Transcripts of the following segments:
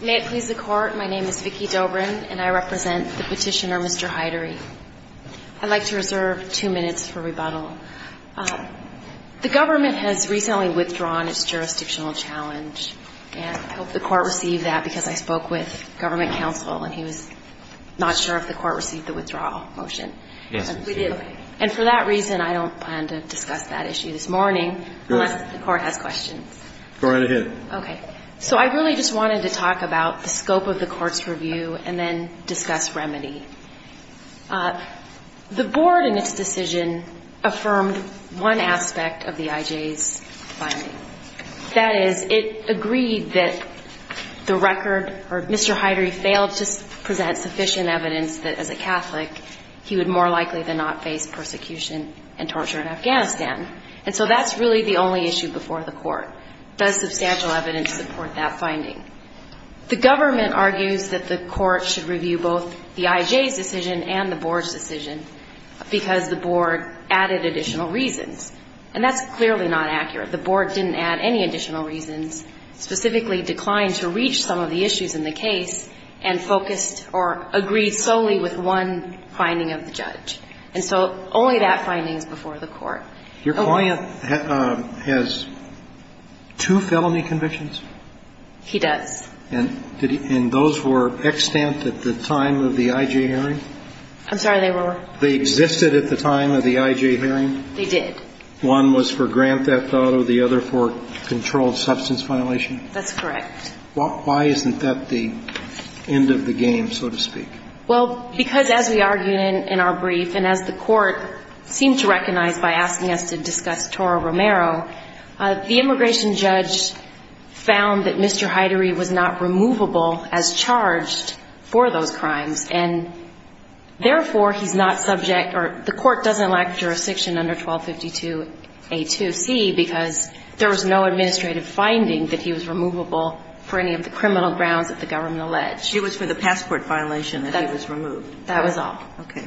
May it please the Court, my name is Vicki Dobrin and I represent the petitioner Mr. Heidery. I'd like to reserve two minutes for rebuttal. The government has recently withdrawn its jurisdictional challenge and I hope the court received that because I spoke with government counsel and he was not sure if the court received the withdrawal motion. And for that reason I don't plan to discuss that issue this morning unless the court has questions. Go right ahead. Okay. So I really just wanted to talk about the scope of the court's review and then discuss remedy. The board in its decision affirmed one aspect of the IJ's finding. That is it agreed that the record or Mr. Heidery failed to present sufficient evidence that as a Catholic he would more likely than not face persecution and torture in Afghanistan. And so that's really the only issue before the court. Does substantial evidence support that finding? The government argues that the court should review both the IJ's decision and the board's decision because the board added additional reasons. And that's clearly not accurate. The board didn't add any additional reasons, specifically declined to reach some of the issues in the case and focused or agreed solely with one finding of the judge. And so only that finding is before the court. Your client has two felony convictions? He does. And those were extant at the time of the IJ hearing? I'm sorry, they were. They existed at the time of the IJ hearing? They did. One was for grand theft auto, the other for controlled substance violation? That's correct. Why isn't that the end of the game, so to speak? Well, because as we argued in our brief and as the court seemed to recognize by asking the question, it's not the end of the game. It's not the end of the game. And so the court found that Mr. Hyderi was not removable as charged for those crimes. And therefore, he's not subject or the court doesn't lack jurisdiction under 1252A2C because there was no administrative finding that he was removable for any of the criminal grounds that the government alleged. She was for the passport violation that he was removed. That was all. Okay.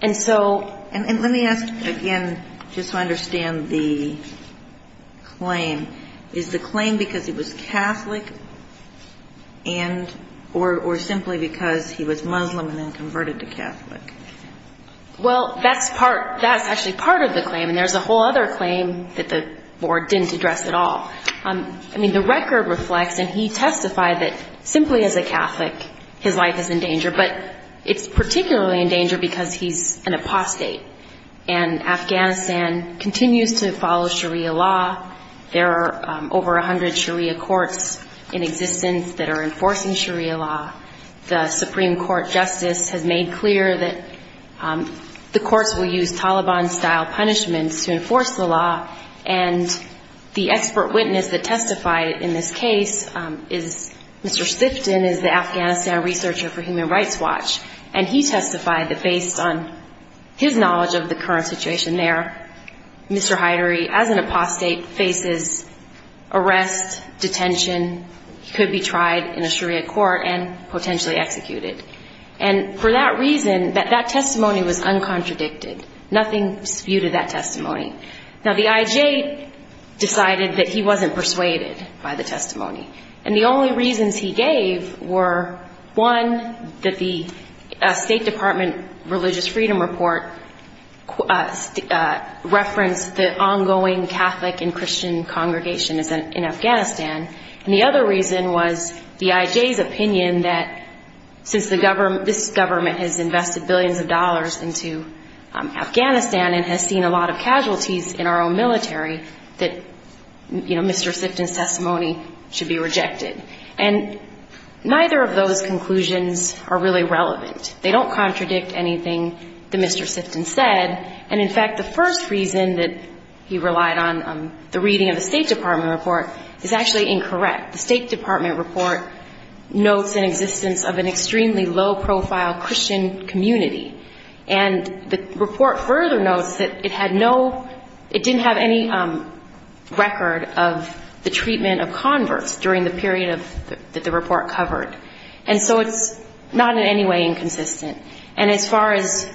And so. And let me ask again, just to understand the claim. Is the claim because he was Catholic and or simply because he was Muslim and then converted to Catholic? Well, that's part, that's actually part of the claim. And there's a whole other claim that the board didn't address at all. I mean, the record reflects and he testified that simply as a Catholic, his life is in danger. But it's particularly in danger because he's an apostate. And Afghanistan continues to follow Sharia law. There are over 100 Sharia courts in existence that are enforcing Sharia law. The Supreme Court justice has made clear that the courts will use Taliban-style punishments to enforce the law. And the expert witness that testified in this case is Mr. Stifton is the Afghanistan researcher for Human Rights Watch. And he testified that based on his knowledge of the current situation there, Mr. Hyderi, as an apostate, faces arrest, detention. He could be tried in a Sharia court and potentially executed. And for that reason, that testimony was uncontradicted. Nothing disputed that testimony. Now, the IJ decided that he wasn't persuaded by the testimony. And the only reasons he gave were, one, that the State Department religious freedom report referenced the ongoing Catholic and Christian congregation in Afghanistan. And the other reason was the IJ's opinion that since this government has invested billions of dollars into Afghanistan and has seen a lot of casualties in our own military, that, you know, Mr. Stifton's testimony should be rejected. And neither of those conclusions are really relevant. They don't contradict anything that Mr. Stifton said. And, in fact, the first reason that he relied on the reading of the State Department report is actually incorrect. The State Department report notes an existence of an extremely low-profile Christian community. And the report further notes that it had no ‑‑ it didn't have any record of the treatment of converts during the period of ‑‑ that the report covered. And so it's not in any way inconsistent. And as far as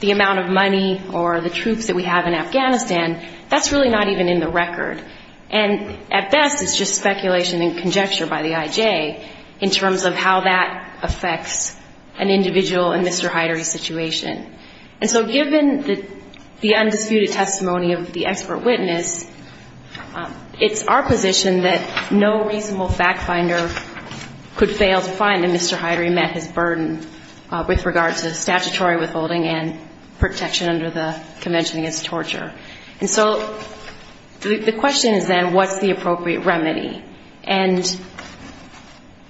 the amount of money or the troops that we have in Afghanistan, that's really not even in the record. And at best, it's just speculation and conjecture by the IJ in terms of how that affects an individual in Mr. Hyderi's situation. And so given the undisputed testimony of the expert witness, it's our position that no reasonable fact finder could fail to find that Mr. Hyderi met his burden with regard to statutory withholding and protection under the Convention Against Torture. And so the question is then, what's the appropriate remedy? And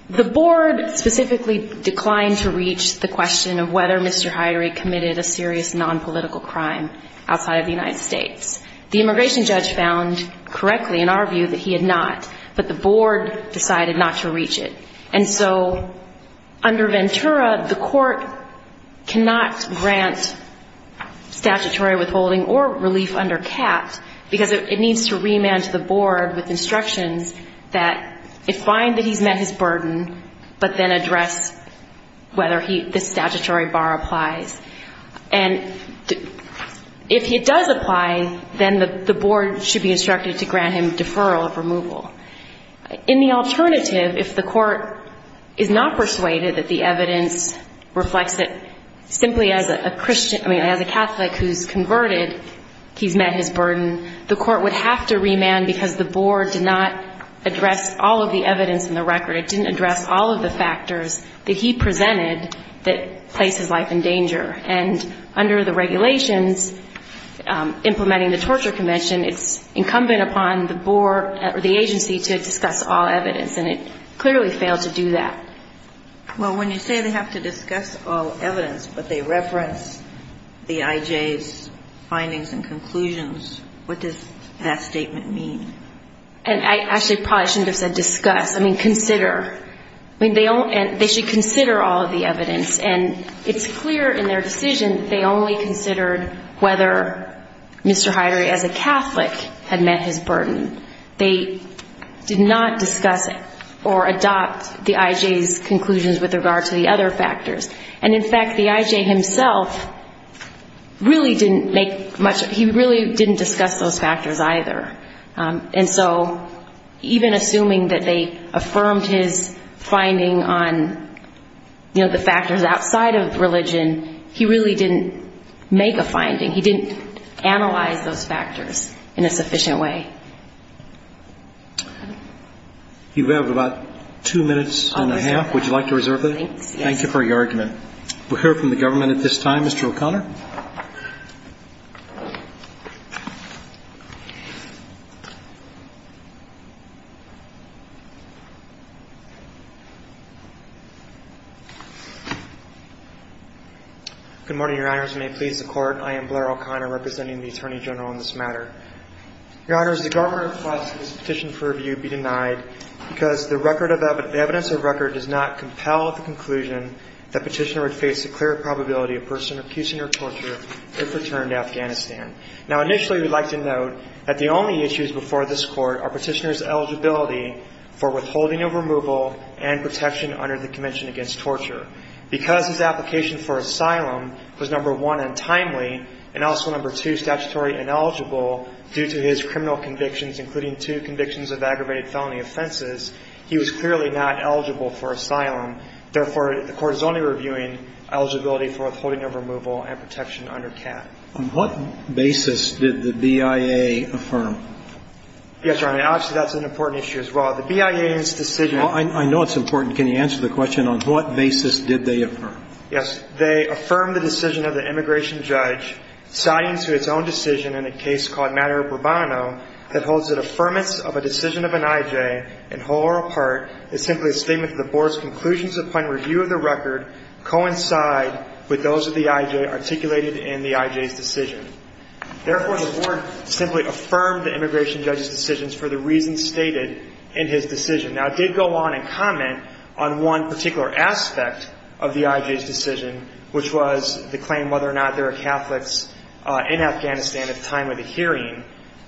the board specifically declined to reach the question of whether Mr. Hyderi committed a serious nonpolitical crime outside of the United States. The immigration judge found correctly, in our view, that he had not. But the board decided not to reach it. And so under Ventura, the court cannot grant statutory withholding or relief under CAPT because it needs to remand to the board with instructions that it find that he's met his burden, but then address whether this statutory bar applies. And if it does apply, then the board should be instructed to grant him deferral of removal. In the alternative, if the court is not persuaded that the evidence reflects that simply as a Catholic who's converted, he's met his burden, the court would have to remand because the board did not address all of the evidence in the record. It didn't address all of the factors that he presented that place his life in danger. And under the regulations, implementing the Torture Convention, it's incumbent upon the board or the agency to discuss all evidence. And it clearly failed to do that. Well, when you say they have to discuss all evidence, but they reference the IJ's findings and conclusions, what does that statement mean? And I actually probably shouldn't have said discuss. I mean, consider. I mean, they should consider all of the evidence. And it's clear in their decision that they only considered whether Mr. Heider as a Catholic had met his burden. They did not discuss or adopt the IJ's conclusions with regard to the other factors. And in fact, the IJ himself really didn't make much, he really didn't discuss those factors either. And so even assuming that they affirmed his finding on, you know, the factors outside of religion, he really didn't make a finding. He didn't analyze those factors in a sufficient way. You have about two minutes and a half. Would you like to reserve that? Thank you for your argument. We'll hear from the government at this time. Mr. O'Connor. Good morning, Your Honors. May it please the Court, I am Blair O'Connor, representing the Attorney General in this matter. Your Honors, the government requires that this petition for review be denied because the record of evidence, the evidence of record does not compel the conclusion that petitioner would face a clear probability of person accusing or committing a crime. Now, initially, we'd like to note that the only issues before this Court are petitioner's eligibility for withholding of removal and protection under the Convention Against Torture. Because his application for asylum was number one, untimely, and also number two, statutory ineligible due to his criminal convictions, including two convictions of aggravated felony offenses, he was clearly not eligible for asylum. Therefore, the Court is only reviewing eligibility for withholding of removal and protection under CAT. On what basis did the BIA affirm? Yes, Your Honor. Actually, that's an important issue as well. The BIA's decision – I know it's important. Can you answer the question on what basis did they affirm? Yes. They affirmed the decision of the immigration judge citing to its own decision in a case called Matter of Burbano that holds that affirmance of a decision of an IJ in whole or apart is simply a statement that the Board's conclusions upon review of the record coincide with those of the IJ articulated in the IJ's decision. Therefore, the Board simply affirmed the immigration judge's decisions for the reasons stated in his decision. Now, it did go on and comment on one particular aspect of the IJ's decision, which was the claim whether or not there are Catholics in Afghanistan at the time of the hearing.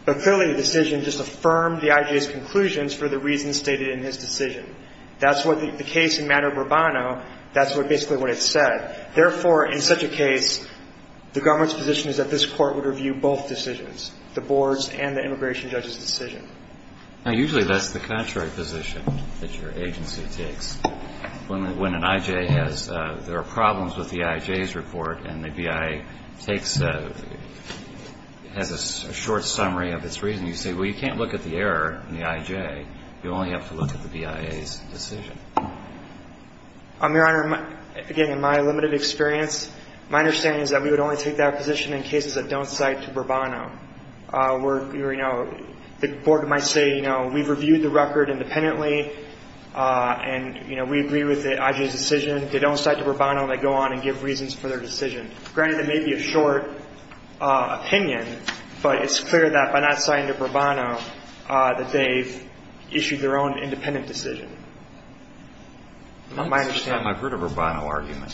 But clearly, the decision just affirmed the IJ's conclusions for the reasons stated in his decision. That's what the case in Matter of Burbano – that's basically what it said. Therefore, in such a case, the government's position is that this Court would review both decisions, the Board's and the immigration judge's decision. Now, usually that's the contrary position that your agency takes. When an IJ has – there are problems with the IJ's report and the BIA takes – has a short summary of its reasoning, you say, well, you can't look at the error in the IJ. You only have to look at the BIA's decision. Your Honor, again, in my limited experience, my understanding is that we would only take that position in cases that don't cite to Burbano. Where, you know, the Board might say, you know, we've reviewed the record independently, and, you know, we agree with the IJ's decision. If they don't cite to Burbano, they go on and give reasons for their decision. Granted, that may be a short opinion, but it's clear that by not citing to Burbano that they've issued their own independent decision. My understanding – I've heard a Burbano argument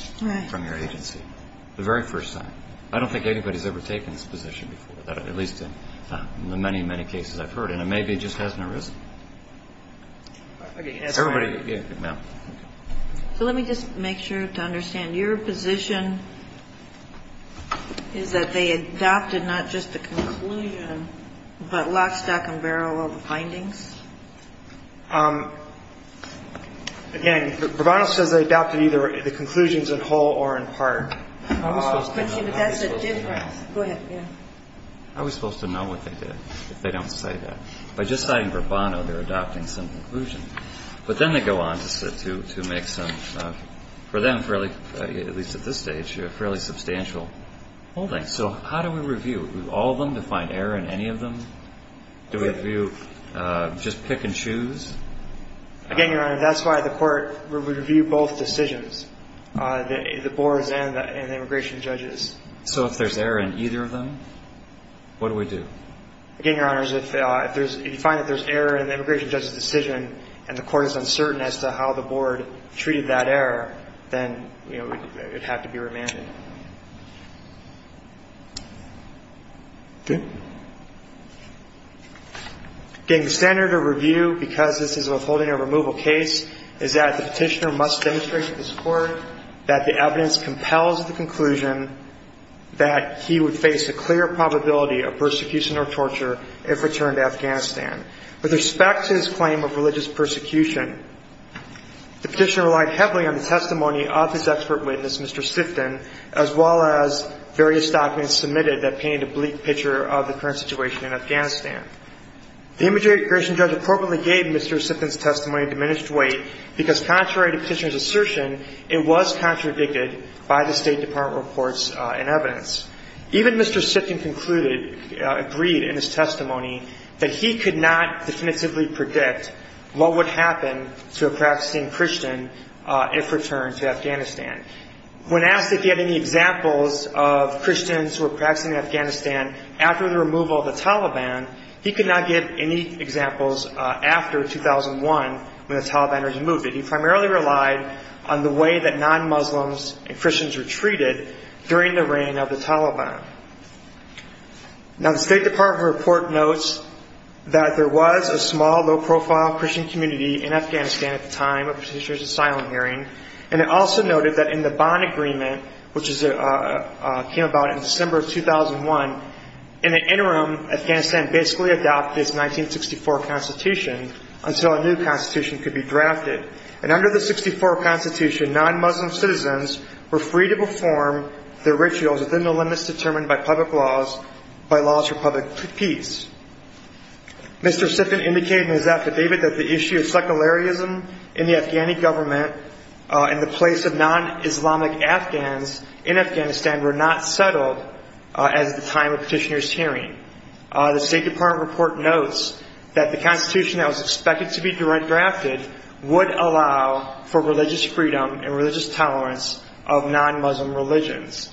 from your agency, the very first time. I don't think anybody's ever taken this position before, at least in the many, many cases I've heard. And it may be it just has no risk. Everybody – So let me just make sure to understand. Your position is that they adopted not just the conclusion, but lock, stack, and barrel of the findings? Again, Burbano says they adopted either the conclusions in whole or in part. I was supposed to know what they did, if they don't cite that. By just citing Burbano, they're adopting some conclusions. But then they go on to make some, for them, fairly – at least at this stage, fairly substantial holdings. So how do we review? Do we review all of them to find error in any of them? Do we review just pick and choose? Again, Your Honor, that's why the Court would review both decisions. The board's and the immigration judge's. So if there's error in either of them, what do we do? Again, Your Honor, if you find that there's error in the immigration judge's decision and the Court is uncertain as to how the board treated that error, then it would have to be remanded. Okay. Again, the standard of review, because this is a withholding or removal case, is that the petitioner must demonstrate to this Court that the evidence compels the conclusion that he would face a clear probability of persecution or torture if returned to Afghanistan. With respect to his claim of religious persecution, the petitioner relied heavily on the testimony of his expert witness, Mr. Sifton, as well as various documents submitted that painted a bleak picture of the current situation in Afghanistan. The immigration judge appropriately gave Mr. Sifton's testimony a diminished weight because contrary to the petitioner's assertion, it was contradicted by the State Department reports and evidence. Even Mr. Sifton concluded, agreed in his testimony, that he could not definitively predict what would happen to a practicing Christian if returned to Afghanistan. When asked if he had any examples of Christians who were practicing in Afghanistan after the removal of the Taliban, he could not give any examples after 2001 when the Taliban was removed, but he primarily relied on the way that non-Muslims and Christians were treated during the reign of the Taliban. Now, the State Department report notes that there was a small, low-profile Christian community in Afghanistan at the time of the petitioner's asylum hearing, and it also noted that in the bond agreement, which came about in December of 2001, in the interim, Afghanistan basically adopted its 1964 constitution until a new constitution could be drafted. And under the 1964 constitution, non-Muslim citizens were free to perform their rituals within the limits determined by laws for public peace. Mr. Sifton indicated in his affidavit that the issue of secularism in the Afghani government and the place of non-Islamic Afghans in Afghanistan were not settled at the time of the petitioner's hearing. The State Department report notes that the constitution that was expected to be drafted would allow for religious freedom and religious tolerance of non-Muslim religions.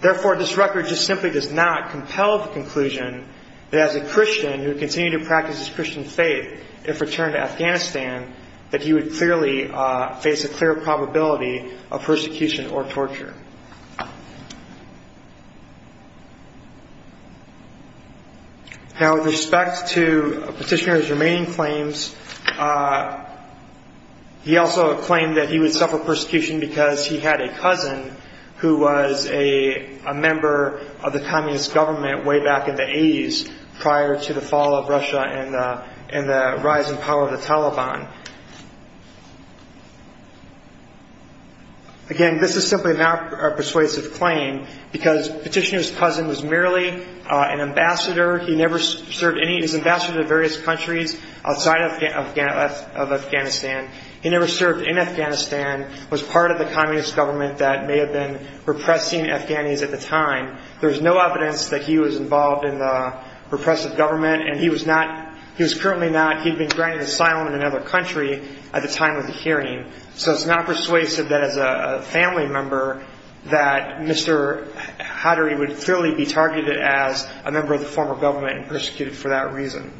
Therefore, this record just simply does not compel the conclusion that as a Christian who continued to practice his Christian faith, if returned to Afghanistan, that he would clearly face a clear probability of persecution or torture. Now, with respect to the petitioner's remaining claims, he also claimed that he would suffer persecution because he had a cousin who was a member of the communist government way back in the 80s prior to the fall of Russia and the rise in power of the Taliban. Again, this is simply not a persuasive claim because the petitioner's cousin was merely an ambassador. He never served any – he was ambassador to various countries outside of Afghanistan. He never served in Afghanistan, was part of the communist government that may have been repressing Afghanis at the time. There is no evidence that he was involved in the repressive government, and he was not – he was currently not. He had been granted asylum in another country at the time of the hearing. So it's not persuasive that as a family member that Mr. Hadri would clearly be targeted as a member of the former government and persecuted for that reason.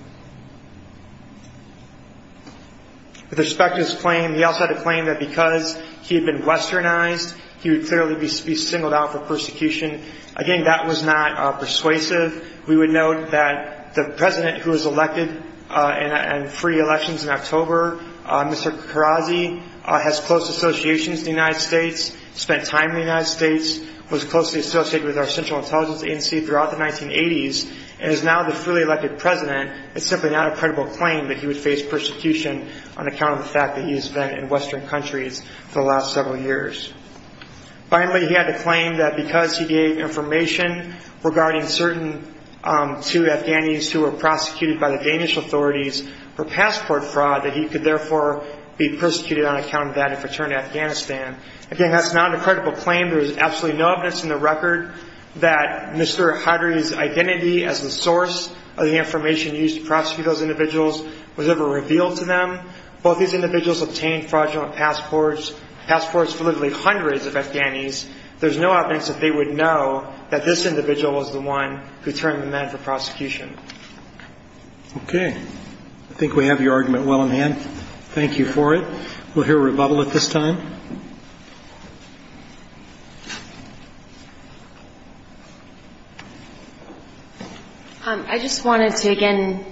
With respect to his claim, he also had a claim that because he had been westernized, he would clearly be singled out for persecution. Again, that was not persuasive. We would note that the president who was elected in free elections in October, Mr. Karrazi, has close associations in the United States, spent time in the United States, was closely associated with our Central Intelligence Agency throughout the 1980s, and is now the freely elected president. It's simply not a credible claim that he would face persecution on account of the fact that he has spent in western countries for the last several years. Finally, he had a claim that because he gave information regarding certain two Afghanis who were prosecuted by the Danish authorities for passport fraud, that he could therefore be persecuted on account of that if returned to Afghanistan. Again, that's not a credible claim. There is absolutely no evidence in the record that Mr. Hadri's identity as the source of the information used to prosecute those individuals was ever revealed to them. Both these individuals obtained fraudulent passports, passports for literally hundreds of Afghanis. There's no evidence that they would know that this individual was the one who turned them in for prosecution. Okay. I think we have your argument well in hand. Thank you for it. We'll hear a rebuttal at this time. I just wanted to again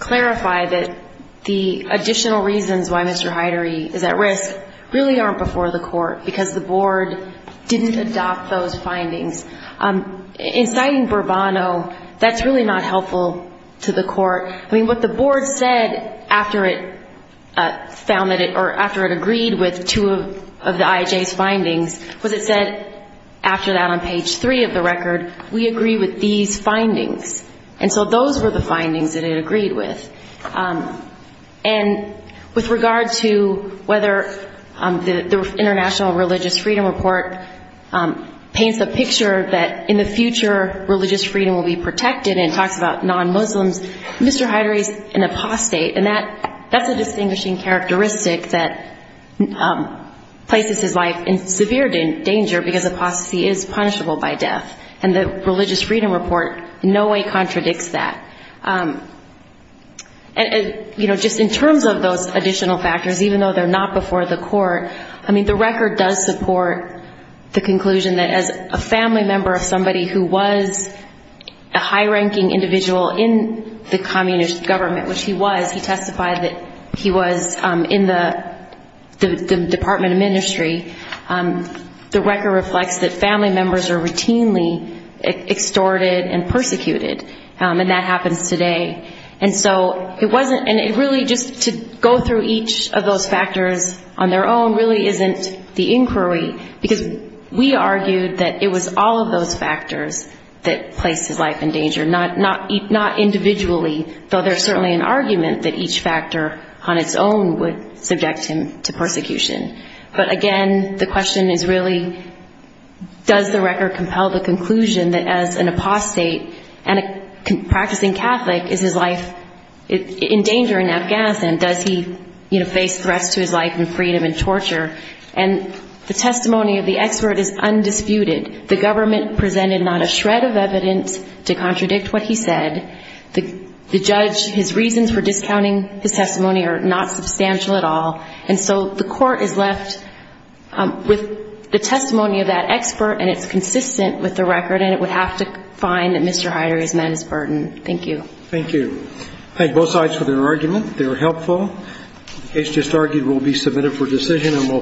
clarify that the additional reasons why Mr. Hadri is at risk really aren't before the court, because the board didn't adopt those findings. In citing Bourbano, that's really not helpful to the court. I mean, what the board said after it agreed with two of the IJ's findings was it said, after that on page three of the record, we agree with these findings. And so those were the findings that it agreed with. And with regard to whether the International Religious Freedom Report paints the picture that in the future religious freedom will be protected and talks about non-Muslims, Mr. Hadri is an apostate, and that's a distinguishing characteristic that places his life in severe danger because apostasy is punishable by death. And the Religious Freedom Report in no way contradicts that. Just in terms of those additional factors, even though they're not before the court, I mean, the record does support the conclusion that as a family member of somebody who was a high-ranking individual in the communist government, which he was, he testified that he was in the Department of Ministry, the record reflects that family members are routinely extorted and persecuted, and that happens today. And so it really just to go through each of those factors on their own really isn't the inquiry because we argued that it was all of those factors that placed his life in danger, not individually, though there's certainly an argument that each factor on its own would subject him to persecution. But again, the question is really does the record compel the conclusion that as an apostate and a practicing Catholic is his life in danger in Afghanistan? Does he face threats to his life and freedom and torture? And the testimony of the expert is undisputed. The government presented not a shred of evidence to contradict what he said. The judge, his reasons for discounting his testimony are not substantial at all. And so the court is left with the testimony of that expert, and it's consistent with the record, and it would have to find that Mr. Heider is men's burden. Thank you. Thank you. Thank both sides for their argument. They were helpful. The case just argued will be submitted for decision and will